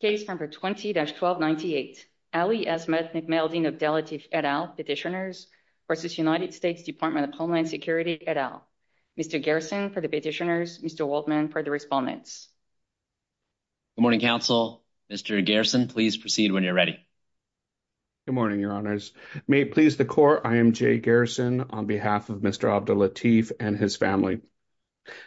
Case number 20-1298. Ali Asmad, Nick Melding, Abdellatif, et al. Petitioners versus United States Department of Homeland Security, et al. Mr. Garrison for the petitioners, Mr. Waldman for the respondents. Good morning, counsel. Mr. Garrison, please proceed when you're ready. Good morning, your honors. May it please the court, I am Jay Garrison on behalf of Mr. Abdellatif and his family.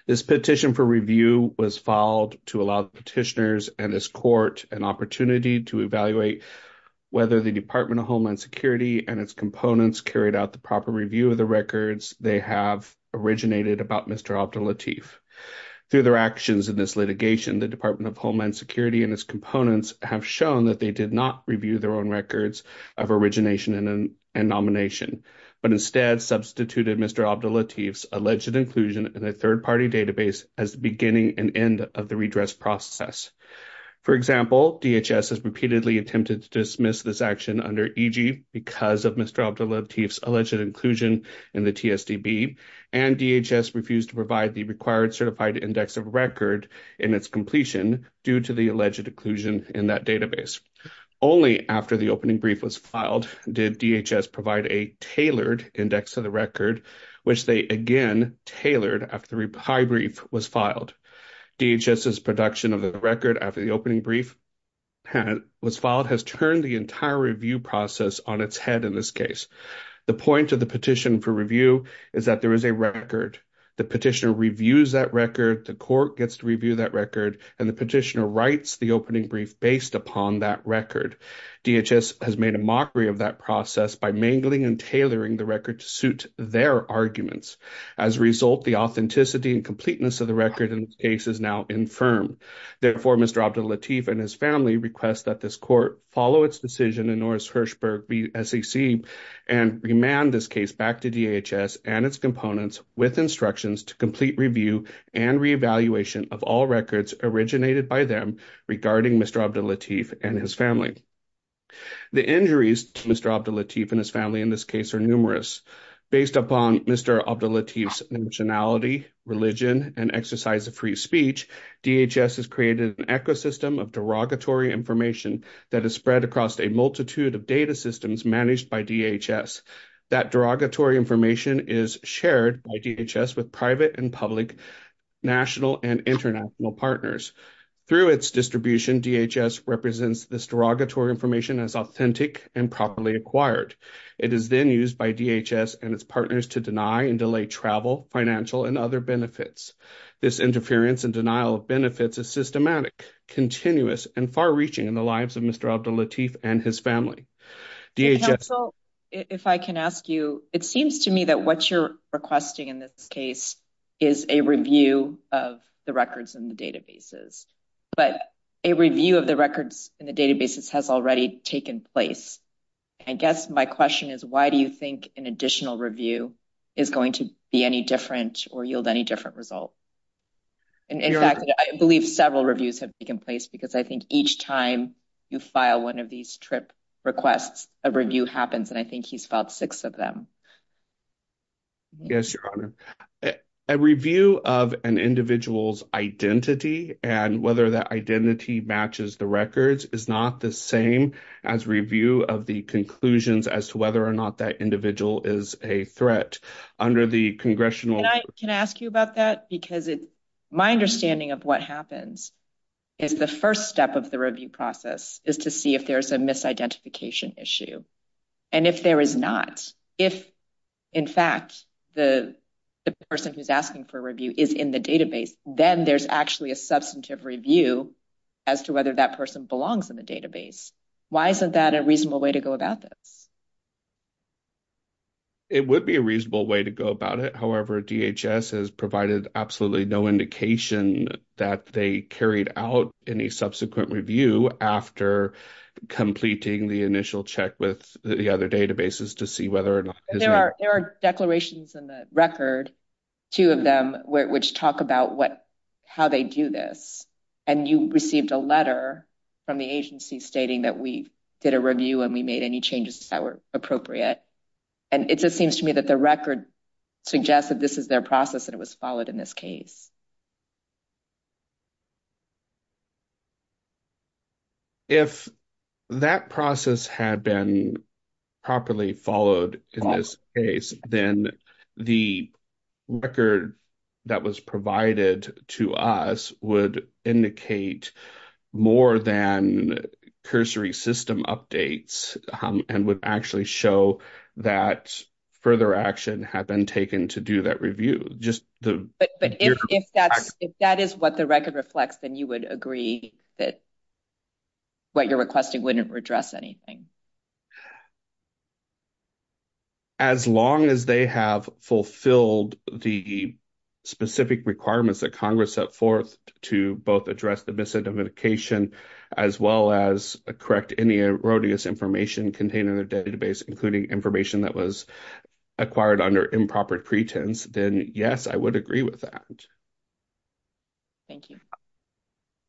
This petition for review was filed to allow petitioners and this court an opportunity to evaluate whether the Department of Homeland Security and its components carried out the proper review of the records they have originated about Mr. Abdellatif. Through their actions in this litigation, the Department of Homeland Security and its components have shown that they did not review their own records of origination and nomination, but instead substituted Mr. Abdellatif's alleged inclusion in a third-party database as the beginning and end of the redress process. For example, DHS has repeatedly attempted to dismiss this action under EG because of Mr. Abdellatif's alleged inclusion in the TSDB, and DHS refused to provide the required certified index of record in its completion due to the alleged inclusion in that database. Only after the opening brief was filed did DHS provide a tailored index of the record, which they again tailored after the high brief was filed. DHS's production of the record after the opening brief was filed has turned the entire review process on its head in this case. The point of the petition for review is that there is a record. The petitioner reviews that record, the court gets to review that record, and the petitioner writes the opening brief based upon that record. DHS has made a mockery of that process by mangling and tailoring the record to suit their arguments. As a result, the authenticity and completeness of the record in this case is now infirm. Therefore, Mr. Abdellatif and his family request that this court follow its decision in Norris-Hirschberg v. SAC and remand this case back to DHS and its components with instructions to complete review and reevaluation of all records originated by them regarding Mr. Abdellatif and his family. The injuries to Mr. Abdellatif and his family in this case are numerous. Based upon Mr. Abdellatif's nationality, religion, and exercise of free speech, DHS has created an ecosystem of derogatory information that is spread across a multitude of data systems managed by DHS. That derogatory information is shared by DHS with private and national and international partners. Through its distribution, DHS represents this derogatory information as authentic and properly acquired. It is then used by DHS and its partners to deny and delay travel, financial, and other benefits. This interference and denial of benefits is systematic, continuous, and far-reaching in the lives of Mr. Abdellatif and his family. Counsel, if I can ask you, it seems to me that what you're requesting in this case is a review of the records in the databases, but a review of the records in the databases has already taken place. I guess my question is why do you think an additional review is going to be any different or yield any different result? In fact, I believe several reviews have taken place because each time you file one of these TRIP requests, a review happens and I think he's filed six of them. Yes, Your Honor. A review of an individual's identity and whether that identity matches the records is not the same as review of the conclusions as to whether or not that individual is a threat under the congressional- Can I ask you about that? Because my understanding of what happens is the first step of the review process is to see if there's a misidentification issue. And if there is not, if in fact the person who's asking for a review is in the database, then there's actually a substantive review as to whether that person belongs in the database. Why isn't that a reasonable way to go about this? It would be a reasonable way to go about it. However, DHS has provided absolutely no indication that they carried out any subsequent review after completing the initial check with the other databases to see whether or not- There are declarations in the record, two of them, which talk about how they do this. And you received a letter from the agency stating that we did a review and we made any changes that were appropriate. And it just seems to me that the record suggests that this is their process and it was followed in this case. If that process had been properly followed in this case, then the record that was provided to us would indicate more than cursory system updates and would actually show that further action had been taken to do that review. Just the- But if that is what the record reflects, then you would agree that what you're requesting wouldn't redress anything. As long as they have fulfilled the specific requirements that Congress set forth to both address the misidentification, as well as correct any erroneous information contained in their database, including information that was acquired under improper pretense, then yes, I would agree with that. Thank you.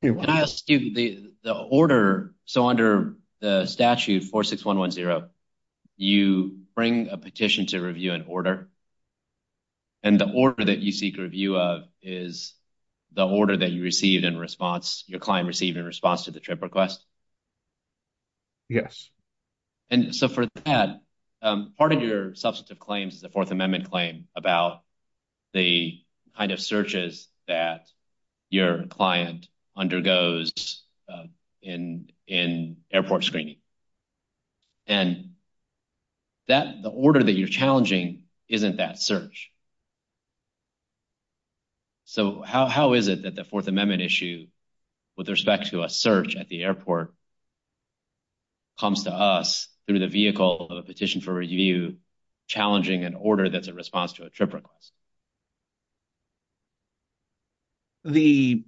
Can I ask you, the order, so under the statute 46110, you bring a petition to review an order, and the order that you seek review of is the order that you received in response, your client received in response to the TRIP request? Yes. And so for that, part of your substantive claims is a Fourth Amendment claim about the kind of searches that your client undergoes in airport screening. And the order that you're challenging isn't that search. So how is it that the Fourth Amendment issue with respect to a search at the airport comes to us through the vehicle of a petition for review challenging an order that's in response to a TRIP request? The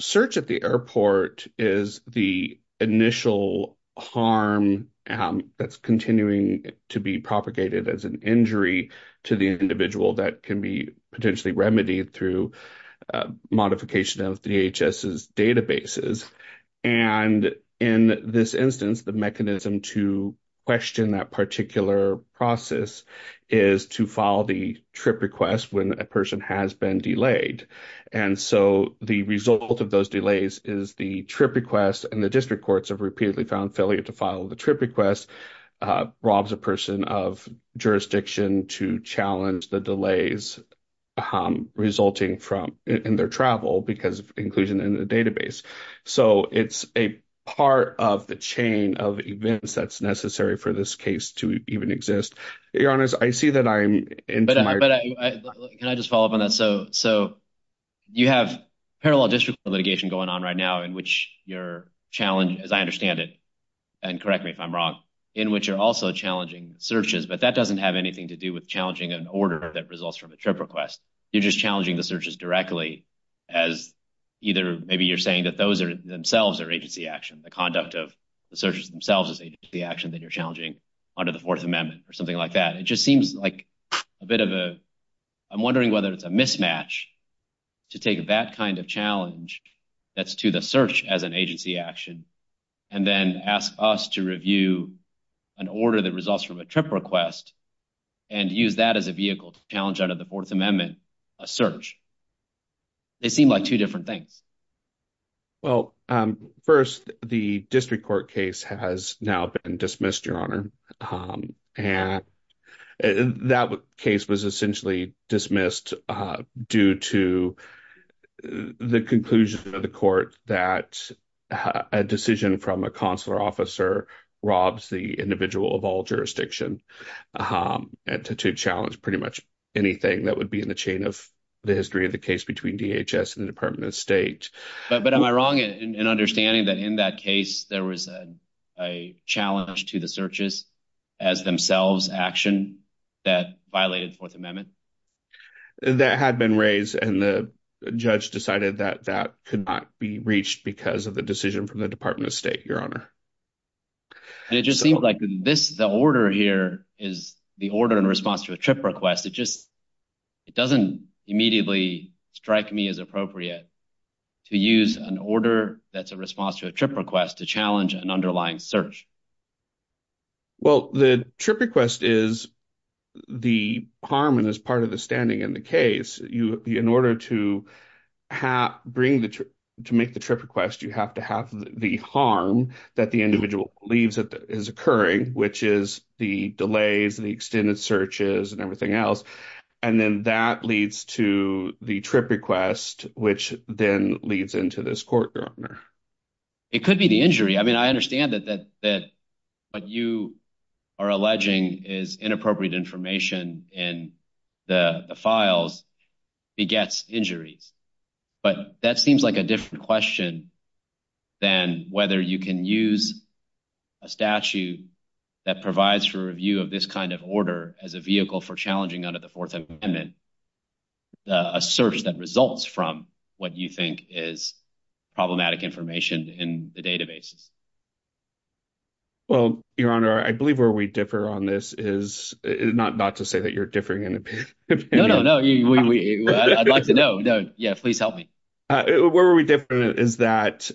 search at the airport is the initial harm that's continuing to be propagated as an injury to the individual that can be potentially remedied through modification of DHS's databases. And in this instance, the mechanism to question that particular process is to follow the TRIP request when a person has been delayed. And so the result of those delays is the TRIP request, and the district courts have repeatedly found failure to follow the TRIP request, robs a person of jurisdiction to challenge the delays resulting from in their travel because of inclusion in the database. So it's a part of the chain of events that's necessary for this case to even exist. Your Honor, I see that I'm into my... But can I just follow up on that? So you have parallel district litigation going on right now in which you're challenging, as I understand it, and correct me if I'm wrong, in which you're also challenging searches. But that doesn't have anything to do with challenging an order that results from a TRIP request. You're just challenging the searches directly as either maybe you're saying that those themselves are agency action, the conduct of the searches themselves is agency action that you're challenging under the Fourth Amendment or something like that. It just seems like a bit of a... I'm wondering whether it's a mismatch to take that kind of challenge that's to the search as an agency action and then ask us to review an order that results from a TRIP request and use that as a vehicle to challenge out of the Fourth Amendment a search. They seem like two different things. Well, first, the district court case has now been dismissed, Your Honor. And that case was essentially dismissed due to the conclusion of the court that a decision from a consular officer robs the individual of all jurisdiction to challenge pretty much anything that would be in the chain of the history of the case between DHS and the Department of State. But am I wrong in understanding that in that case there was a challenge to the searches as themselves action that violated the Fourth Amendment? That had been raised and the judge decided that that could not be reached because of the decision from the Department of State, Your Honor. It just seems like the order here is the order in response to a TRIP request. It just doesn't immediately strike me as appropriate to use an order that's a response to a TRIP request to challenge an underlying search. Well, the TRIP request is the harm and is part of the standing in the case. In order to bring the, to make the TRIP request, you have to have the harm that the individual believes is occurring, which is the delays, the extended searches and everything else. And then that leads to the TRIP request, which then leads into this court, Your Honor. It could be the injury. I mean, I understand that what you are alleging is inappropriate information in the files begets injuries, but that seems like a different question than whether you can use a statute that provides for review of this kind of order as a vehicle for challenging under the Fourth Amendment a search that results from what you think is problematic information in the databases. Well, Your Honor, I believe where we differ on this is not to say that you're differing in opinion. No, no, no. I'd like to know. Yeah, please help me. Where are we different is that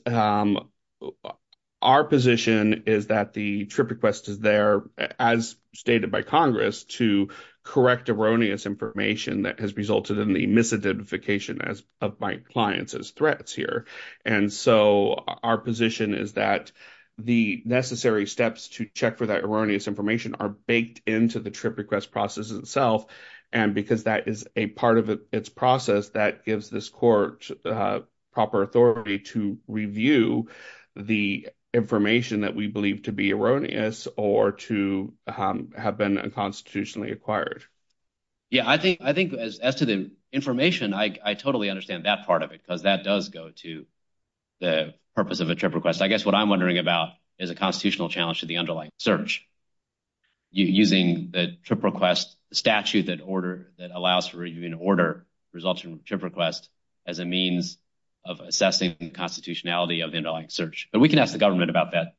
our position is that the TRIP request is there as stated by Congress to correct erroneous information that has resulted in the misidentification of my clients as threats here. And so our position is that the necessary steps to correct erroneous information in the TRIP request process itself. And because that is a part of its process, that gives this court proper authority to review the information that we believe to be erroneous or to have been unconstitutionally acquired. Yeah, I think as to the information, I totally understand that part of it because that does go to the purpose of a TRIP request. I guess what I'm wondering about is a constitutional challenge to the underlying search. Using the TRIP request statute that allows for review and order results from TRIP request as a means of assessing the constitutionality of the underlying search. But we can ask the government about that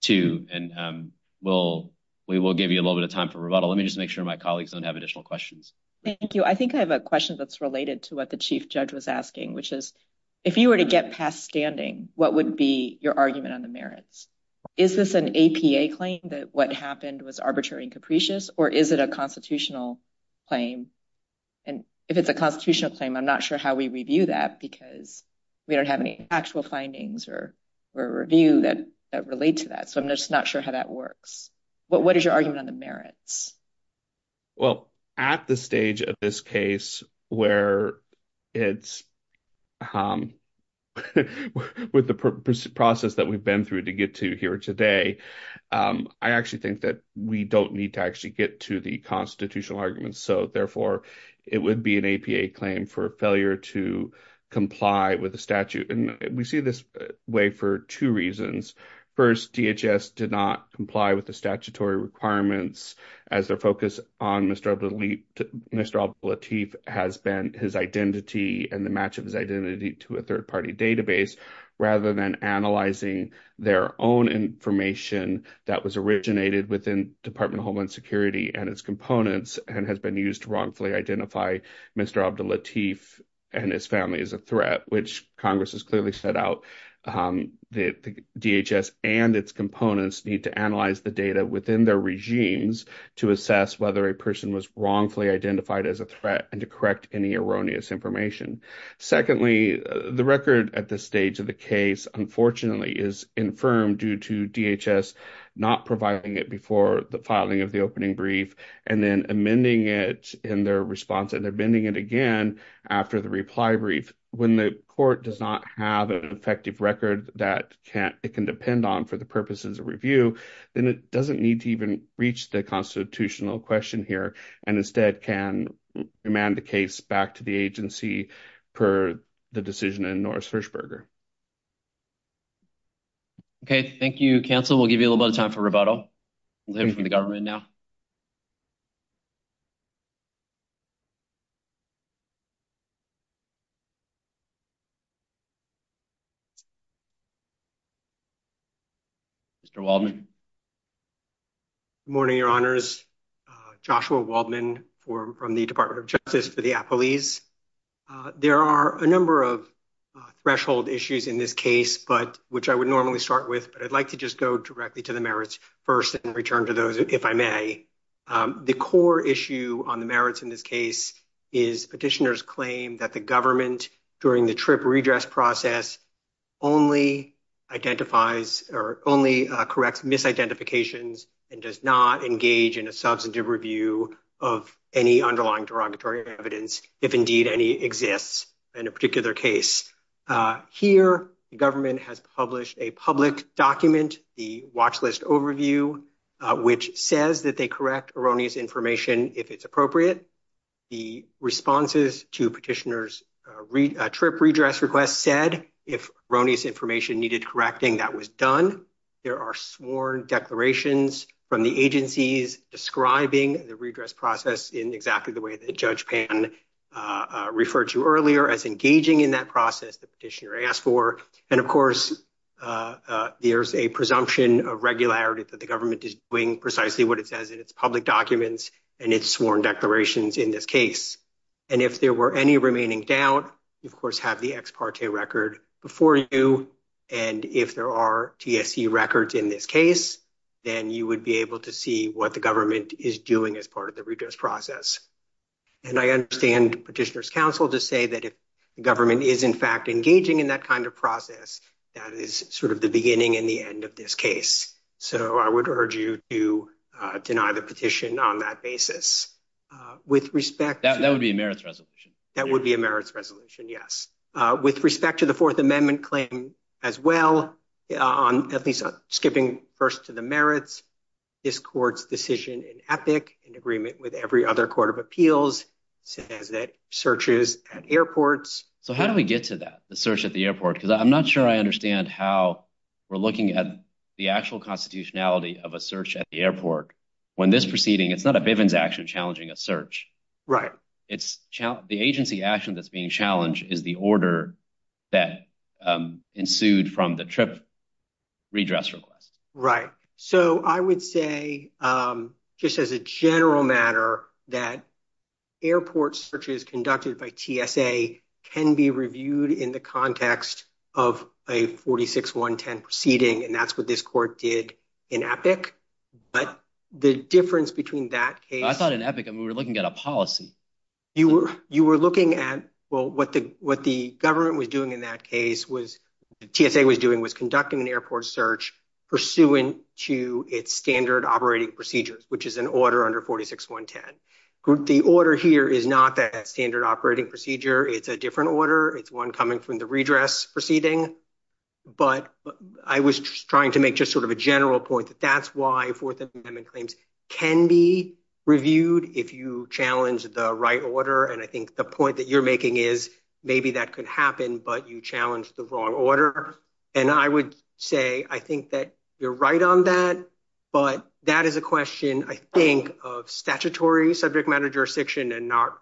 too, and we will give you a little bit of time for rebuttal. Let me just make sure my colleagues don't have additional questions. Thank you. I think I have a question that's related to what the Chief Judge was asking, which is if you were to get past standing, what would be your argument on the merits? Is this an APA claim that what happened was arbitrary and capricious, or is it a constitutional claim? And if it's a constitutional claim, I'm not sure how we review that because we don't have any actual findings or review that relate to that. So I'm just not sure how that works. But what is your argument on the merits? Well, at the stage of this case where it's with the process that we've been through to get to here today, I actually think that we don't need to actually get to the constitutional arguments. So therefore, it would be an APA claim for failure to comply with the statute. And we see this way for two reasons. First, DHS did not comply with the statutory requirements as their focus on Mr. Abdullatif has been his identity and the match of his identity to a third-party database, rather than analyzing their own information that was originated within Department of Homeland Security and its components and has been used to wrongfully identify Mr. Abdullatif and his family as a threat, which Congress has clearly set out that DHS and its components need to analyze the data within their regimes to assess whether a person was wrongfully identified as a threat and to correct any erroneous information. Secondly, the record at this stage of the case, unfortunately, is infirm due to DHS not providing it before the filing of the opening brief and then amending it response and amending it again after the reply brief. When the court does not have an effective record that it can depend on for the purposes of review, then it doesn't need to even reach the constitutional question here and instead can remand the case back to the agency per the decision in Norris Hirschberger. Okay. Thank you, counsel. We'll give you a little bit of time for rebuttal. We'll hear from the government now. Mr. Waldman. Good morning, Your Honors. Joshua Waldman from the Department of Justice for the Appellees. There are a number of threshold issues in this case, which I would normally start with, but I'd like to just go directly to the merits first and return to those if I may. The core issue on the merits in this case is petitioners claim that the government during the TRIP redress process only identifies or only corrects misidentifications and does not engage in a substantive review of any underlying derogatory evidence, if indeed any exists in a particular case. Here, the government has published a public document, the watch list overview, which says that they correct erroneous information if it's appropriate. The responses to petitioners' TRIP redress request said if erroneous information needed correcting, that was done. There are sworn declarations from the agencies describing the redress process in exactly the way that Judge Pan referred to earlier as engaging in that process the petitioner asked for. And of course, there's a presumption of regularity that the government is doing precisely what it says in its public documents and its sworn declarations in this case. And if there were any remaining doubt, you, of course, have the ex parte record before you. And if there are TSE records in this case, then you would be able to see what the government is doing as part of the redress process. And I understand petitioners' counsel to say that the government is, in fact, engaging in that kind of process. That is sort of the beginning and the end of this case. So I would urge you to deny the petition on that basis. That would be a merits resolution. That would be a merits resolution, yes. With respect to the Fourth Amendment claim as well, skipping first to the merits, this court's decision in EPIC, in agreement with every other court of appeals, says that searches at airports. So how do we get to that, the search at the airport? Because I'm not sure I understand how we're looking at the actual constitutionality of a search at the airport when this proceeding, it's not a Bivens action challenging a search. Right. The agency action that's being challenged is the order that ensued from the trip redress request. Right. So I would say, just as a general matter, that airport searches conducted by TSA can be reviewed in the context of a 46-110 proceeding. And that's what this court did in EPIC. But the difference between that case... I thought in EPIC, I mean, we're looking at a policy. You were looking at, well, what the government was doing in that case, TSA was doing was conducting an airport search pursuant to its standard operating procedures, which is an order under 46-110. The order here is not that standard operating procedure. It's a different order. It's one coming from the redress proceeding. But I was trying to make just sort of a general point that that's why Fourth Amendment claims can be reviewed if you challenge the right order. And I think the point that you're making is maybe that could happen, but you challenged the wrong order. And I would say, I think that you're right on that, but that is a question, I think, of statutory subject matter jurisdiction and not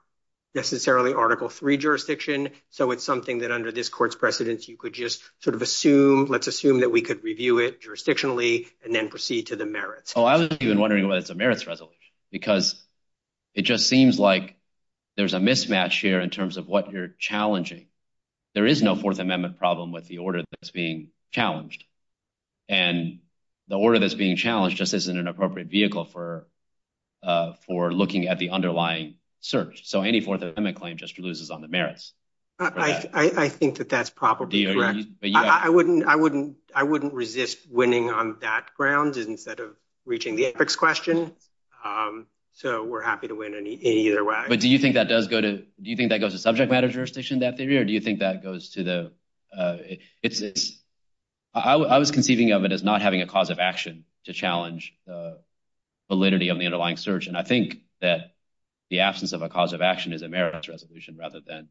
necessarily Article III jurisdiction. So it's something that under this court's precedence, you could just sort of assume, let's assume that we could review it jurisdictionally and then proceed to the merits. Oh, I was even wondering whether it's a merits resolution, because it just seems like there's a mismatch here in terms of what you're challenging. There is no Fourth Amendment problem with the order that's being challenged. And the order that's being challenged just isn't an appropriate vehicle for looking at the underlying search. So any Fourth Amendment claim just loses on the merits. I think that that's probably correct. I wouldn't resist winning on that ground instead of reaching the ethics question. So we're happy to win in either way. But do you think that does go to, do you think that goes to subject matter jurisdiction that theory, or do you think that goes to the, it's, I was conceiving of it as not having a cause of action to challenge the validity of the underlying search. And I think that the absence of a cause of action is a merits resolution rather than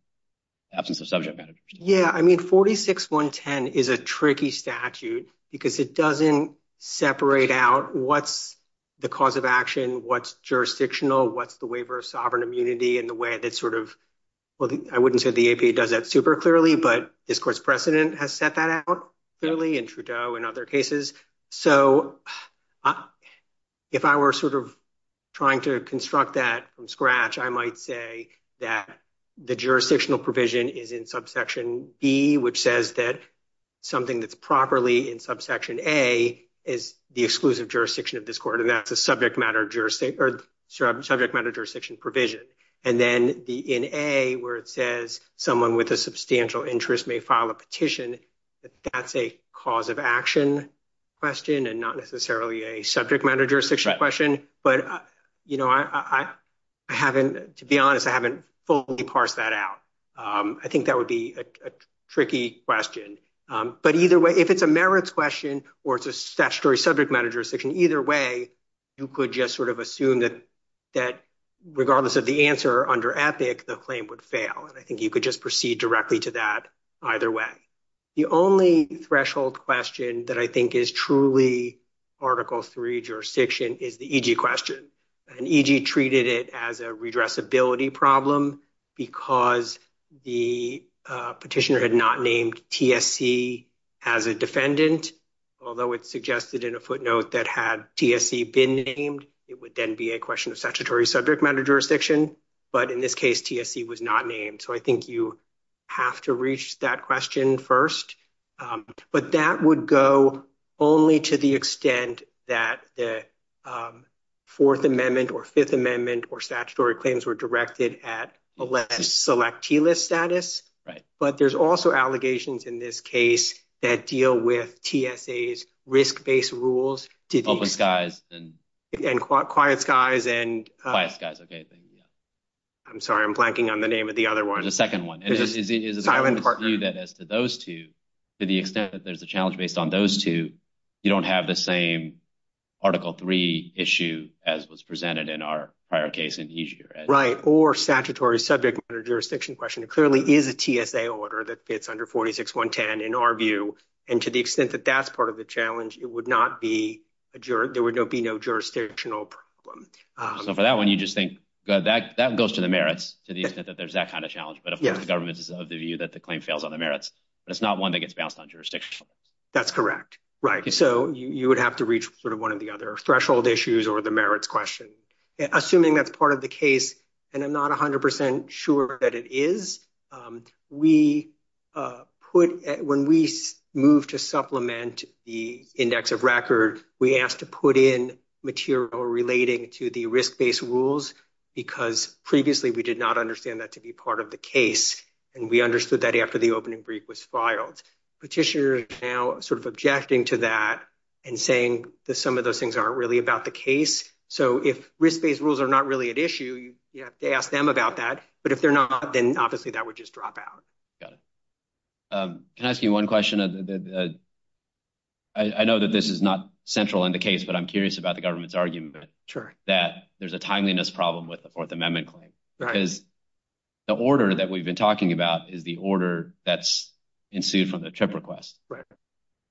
absence of subject matter. Yeah, I mean, 46.110 is a tricky statute because it doesn't separate out what's the cause of action, what's jurisdictional, what's the waiver of sovereign immunity, and the way that sort of, well, I wouldn't say the APA does that super clearly, but this court's precedent has set that out clearly in Trudeau and other cases. So if I were sort of trying to construct that from scratch, I might say that the jurisdictional provision is in subsection B, which says that something that's properly in subsection A is the exclusive jurisdiction of this court, and that's a subject matter jurisdiction provision. And then in A, where it says someone with a substantial interest may file a petition, that's a cause of action question and not necessarily a subject matter jurisdiction question. But I haven't, to be honest, I haven't fully parsed that out. I think that would be a tricky question. But either way, if it's a merits question or it's a statutory subject matter jurisdiction, either way, you could just sort of assume that regardless of the answer under APIC, the claim would fail. And I think you could just proceed directly to that either way. The only threshold question that I think is truly Article III jurisdiction is the EG question. And EG treated it as a redressability problem because the petitioner had not named TSC as a defendant, although it suggested in a footnote that had TSC been named, it would then be a question of statutory subject matter jurisdiction. But in this case, TSC was not named. So I think you have to reach that question first. But that would go only to the extent that the Fourth Amendment or Fifth Amendment or statutory claims were directed at selectee list status. Right. But there's also allegations in this case that deal with TSA's risk-based rules. Open skies and. And quiet skies and. Quiet skies, okay. I'm sorry, I'm blanking on the name of the other one. The second one. That as to those two, to the extent that there's a challenge based on those two, you don't have the same Article III issue as was presented in our prior case in EG. Right. Or statutory subject matter jurisdiction question. It clearly is a TSA order that fits under 46-110 in our view. And to the extent that that's part of the challenge, it would not be a juror. There would be no jurisdictional problem. So for that one, you just think that goes to the merits to the extent that there's that kind of challenge. But of course, the government is of the view that the claim fails on the merits. But it's not one that gets bounced on jurisdiction. That's correct, right? So you would have to reach sort of one of the other threshold issues or the merits question. Assuming that's part of the case, and I'm not 100% sure that it is. We put when we move to supplement the index of record, we asked to put in material relating to the risk-based rules because previously we did not understand that to be part of the case. And we understood that after the opening brief was filed. Petitioners are now sort of objecting to that and saying that some of those things aren't really about the case. So if risk-based rules are not really at issue, you have to ask them about that. But if they're not, then obviously that would just drop out. Got it. Can I ask you one question? I know that this is not central in the case, but I'm curious about the government's argument that there's a timeliness problem with the Fourth Amendment claim. Because the order that we've been talking about is the order that's ensued from the TRIP request.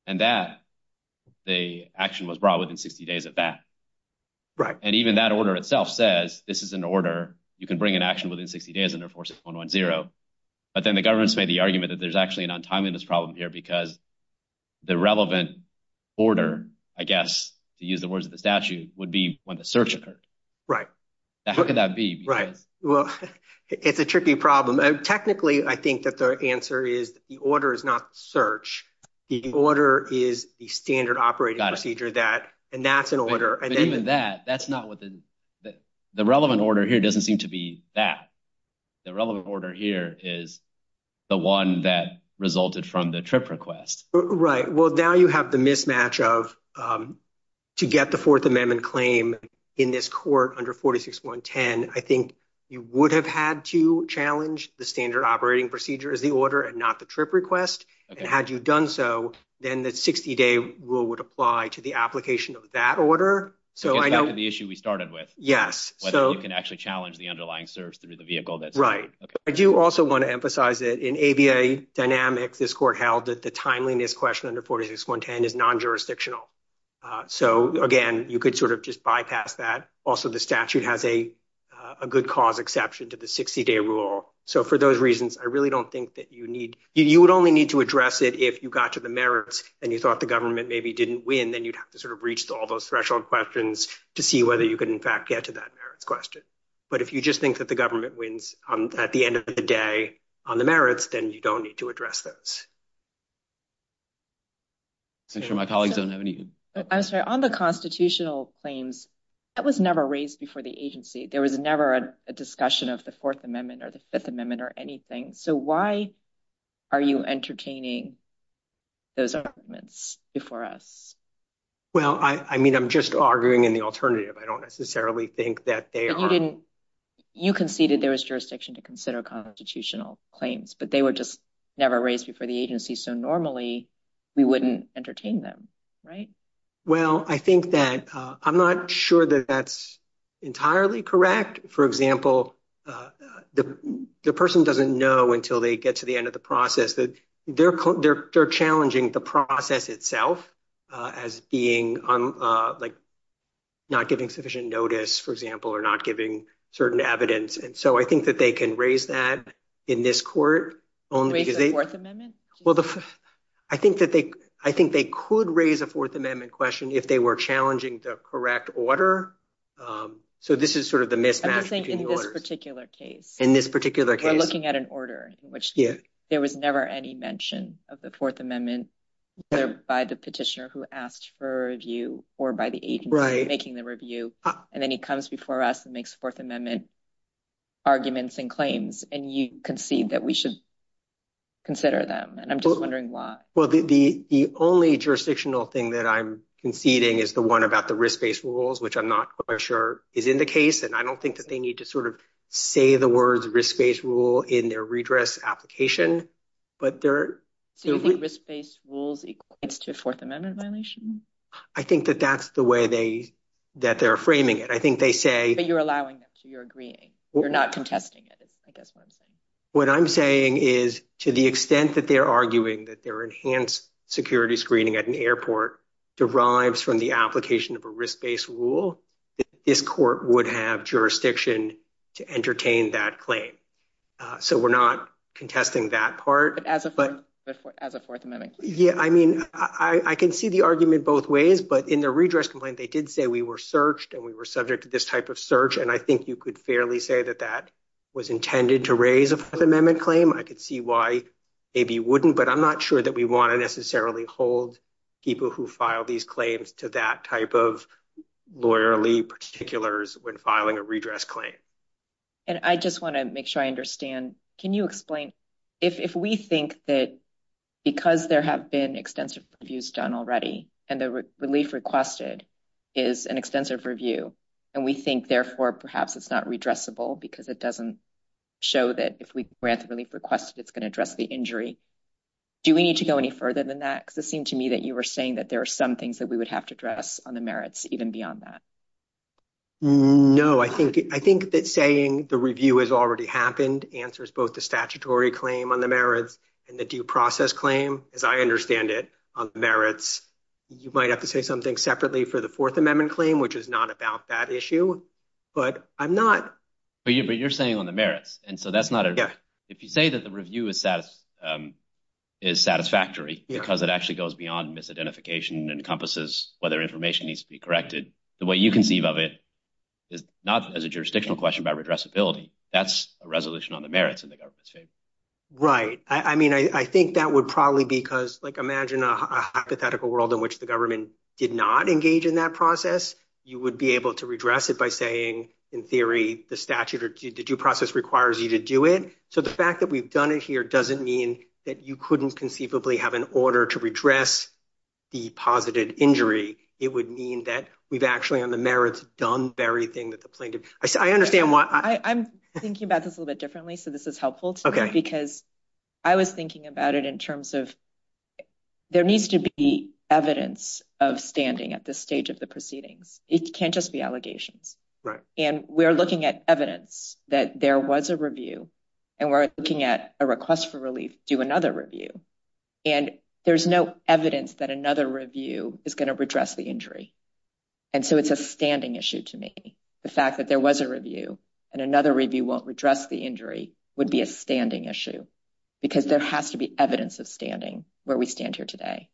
And that, the action was brought within 60 days of that. And even that order itself says, this is an order, you can bring an action within 60 days under 46110. But then the government's made the argument that there's actually an untimeliness problem here because the relevant order, I guess, to use the words of the statute, would be when the search occurred. Right. How could that be? Right. Well, it's a tricky problem. Technically, I think that the answer is the order is not search. The order is the standard operating procedure that, and that's an order. But even that, that's not what the, the relevant order here doesn't seem to be that. The relevant order here is the one that resulted from the TRIP request. Right. Well, now you have the mismatch of, to get the Fourth Amendment claim in this court under 46110, I think you would have had to challenge the standard operating procedure as the order and not the TRIP request. And had you done so, then the 60-day rule would apply to the application of that order. So I know- Against the issue we started with. Yes. Whether you can actually challenge the underlying search through the vehicle that's- Right. I do also want to emphasize that in ABA dynamics, this court held that the timeliness question under 46110 is non-jurisdictional. So again, you could sort of just bypass that. Also, the statute has a good cause exception to the 60-day rule. So for those reasons, I really don't think that you need, you would only need to address it if you got to the merits and you thought the government maybe didn't win, then you'd have to sort of reach all those threshold questions to see whether you could in fact get to that merits question. But if you just think that the government wins at the end of the day on the merits, then you don't need to address those. I'm sure my colleagues don't have any- I'm sorry. On the constitutional claims, that was never raised before the agency. There was never a discussion of the Fourth Amendment or the Fifth Amendment or anything. So why are you entertaining those arguments before us? Well, I mean, I'm just arguing in the alternative. I don't necessarily think that they are- You conceded there was jurisdiction to consider constitutional claims, but they were just never raised before the agency. So normally, we wouldn't entertain them, right? Well, I think that, I'm not sure that that's entirely correct. For example, the person doesn't know until they get to the end of the process that they're challenging the process itself as being on, like, not giving sufficient notice, for example, or not giving certain evidence. And so I think that they can raise that in this court only because they- Raise the Fourth Amendment? Well, I think that they could raise a Fourth Amendment question if they were challenging the correct order. So this is sort of the mismatch between the orders. I'm just saying in this particular case- In this particular case- We're looking at an order in which there was never any mention of the Fourth Amendment. They're by the petitioner who asked for a review or by the agency- Right. Making the review. And then he comes before us and makes Fourth Amendment arguments and claims. And you concede that we should consider them. And I'm just wondering why. Well, the only jurisdictional thing that I'm conceding is the one about the risk-based rules, which I'm not quite sure is in the case. And I don't think that they need to sort of say the words risk-based rule in their redress application. But there- So the risk-based rules equates to a Fourth Amendment violation? I think that that's the way that they're framing it. I think they say- But you're allowing them to. You're agreeing. You're not contesting it, is I guess what I'm saying. What I'm saying is to the extent that they're arguing that their enhanced security screening at an airport derives from the application of a risk-based rule, this court would have jurisdiction to entertain that claim. So we're not contesting that part. As a Fourth Amendment claim? Yeah. I mean, I can see the argument both ways. But in the redress complaint, they did say we were searched and we were subject to this type of search. And I think you could fairly say that that was intended to raise a Fourth Amendment claim. I could see why maybe you wouldn't. But I'm not sure that we want to necessarily hold people who file these claims to that type of lawyerly particulars when filing a redress claim. And I just want to make sure I understand, can you explain, if we think that because there have been extensive reviews done already and the relief requested is an extensive review, and we think therefore perhaps it's not redressable because it doesn't show that if we grant the relief requested it's going to address the injury, do we need to go any further than that? Because it seemed to me that you were saying that there are some things that we would have to address on the merits even beyond that. No, I think that saying the review has already happened answers both the statutory claim on the merits and the due process claim, as I understand it, on the merits. You might have to say something separately for the Fourth Amendment claim, which is not about that issue, but I'm not. But you're saying on the merits, and so that's not a... Yeah. If you say that the review is satisfactory because it actually goes beyond misidentification and whether information needs to be corrected, the way you conceive of it is not as a jurisdictional question about redressability. That's a resolution on the merits in the government's favor. Right. I mean, I think that would probably be because, like, imagine a hypothetical world in which the government did not engage in that process. You would be able to redress it by saying in theory the statute or the due process requires you to do it. So the fact that we've done it here doesn't mean that you couldn't conceivably have an order to redress the posited injury. It would mean that we've actually on the merits done everything that the plaintiff... I understand why... I'm thinking about this a little bit differently, so this is helpful to me because I was thinking about it in terms of there needs to be evidence of standing at this stage of the proceedings. It can't just be allegations. And we're looking at evidence that there was a review and we're looking at a request for relief to do another review. And there's no evidence that another review is going to redress the injury. And so it's a standing issue to me. The fact that there was a review and another review won't redress the injury would be a standing issue because there has to be evidence of standing where we stand here today.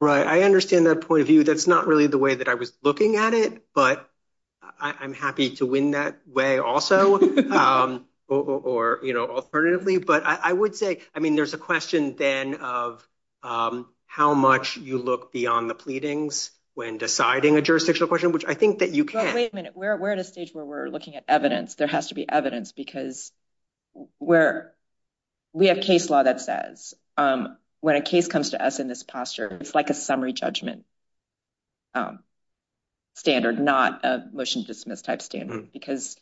Right. I understand that point of view. That's not really the way that I was looking at it, but I'm happy to win that way also or alternatively. But I would say, I mean, there's a question then of how much you look beyond the pleadings when deciding a jurisdictional question, which I think that you can. Wait a minute. We're at a stage where we're looking at evidence. There has to be evidence because we have case law that says when a case comes to us in this posture, it's like a summary judgment standard, not a motion to dismiss type standard, because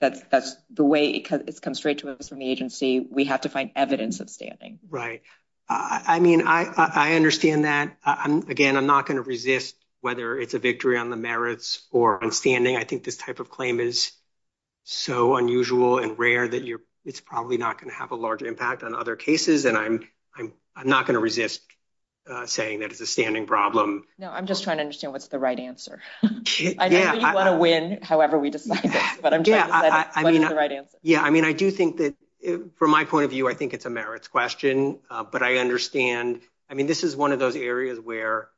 that's the way it's come straight to us from the agency. We have to find evidence of standing. Right. I mean, I understand that. Again, I'm not going to resist whether it's a victory on the merits or on standing. I think this type of claim is so unusual and rare that it's probably not going to have a large impact on other cases. And I'm not going to resist saying that it's a standing problem. No, I'm just trying to understand what's the right answer. I know you want to win, however we decide this, but I'm trying to decide what's the right answer. Yeah. I mean, I do think that from my point of view, I think it's a merits question, but I understand. I mean, this is one of those areas where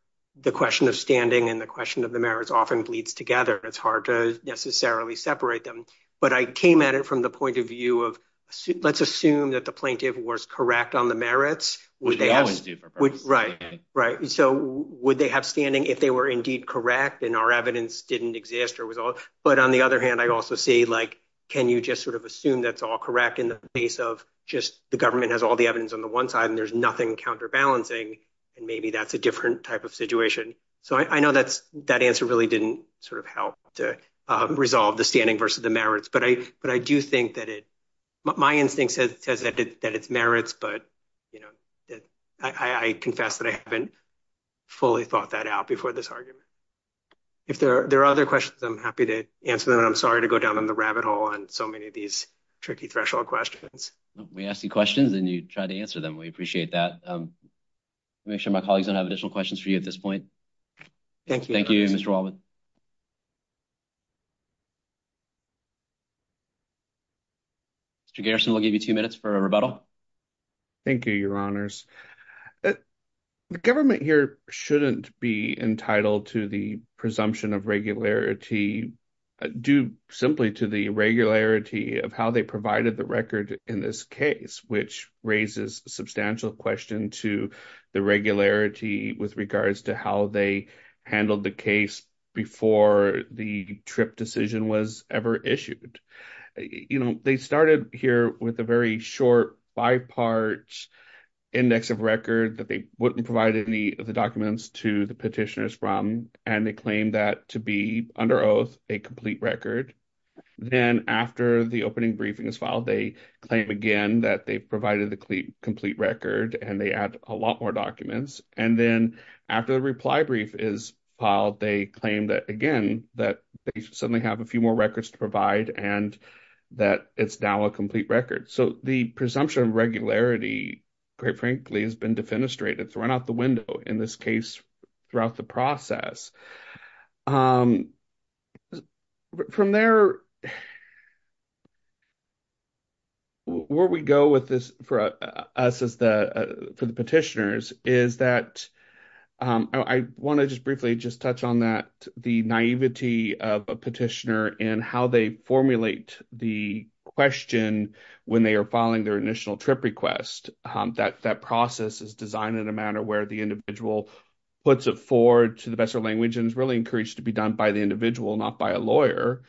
the question of standing and the question of the merits often bleeds together. It's hard to necessarily separate them, but I came at it from the point of view of let's assume that the plaintiff was correct on the merits. Would they have standing if they were indeed correct and our evidence didn't exist? But on the other hand, I also see like, can you just sort of assume that's all correct in the face of just the government has all the evidence on the one side and there's nothing counterbalancing and maybe that's a different type of situation. So I know that answer really didn't sort of help to resolve the standing versus the merits, but I do think that it, my instinct says that it's merits, but I confess that I haven't fully thought that out before this argument. If there are other questions, I'm happy to answer them and I'm sorry to go down on the rabbit hole on so many of these tricky threshold questions. We ask you questions and you try to answer them. We appreciate that. Make sure my colleagues don't have additional questions for you at this point. Thank you. Thank you, Mr. Walden. Mr. Garrison, I'll give you two minutes for a rebuttal. Thank you, your honors. The government here shouldn't be entitled to the presumption of regularity due simply to the irregularity of how they provided the record in this case, which raises a substantial question to the regularity with regards to how they handled the case before the trip decision was ever issued. They started here with a very short five-part index of record that they wouldn't provide any of the documents to the petitioners from, and they claim that to be under oath, a complete record. Then after the opening briefing is filed, they claim again that they provided the complete record and they add a lot more documents. Then after the reply brief is filed, they claim that again, that they suddenly have a few more records to provide and that it's now a complete record. The presumption of regularity, quite frankly, has been defenestrated. It's run out the window in this case throughout the process. From there, where we go with this for us as the petitioners is that I want to just briefly just touch on that, the naivety of a petitioner and how they formulate the question when they are filing their initial trip request. That process is designed in a manner where the individual puts it forward to the best of language and is really encouraged to be done by the individual, not by a lawyer.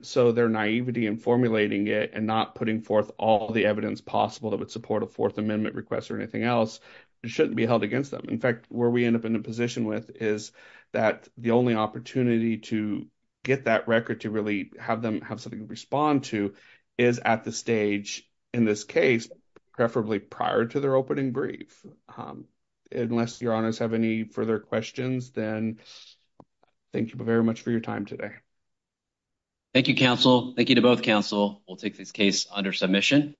So their naivety in formulating it and not putting forth all the evidence possible that would support a Fourth Amendment request or anything else shouldn't be held against them. In fact, where we end up in a position with is that the only opportunity to get that record to really have them have something to respond to is at the stage, in this case, preferably prior to opening brief. Unless your honors have any further questions, then thank you very much for your time today. Thank you, counsel. Thank you to both counsel. We'll take this case under submission.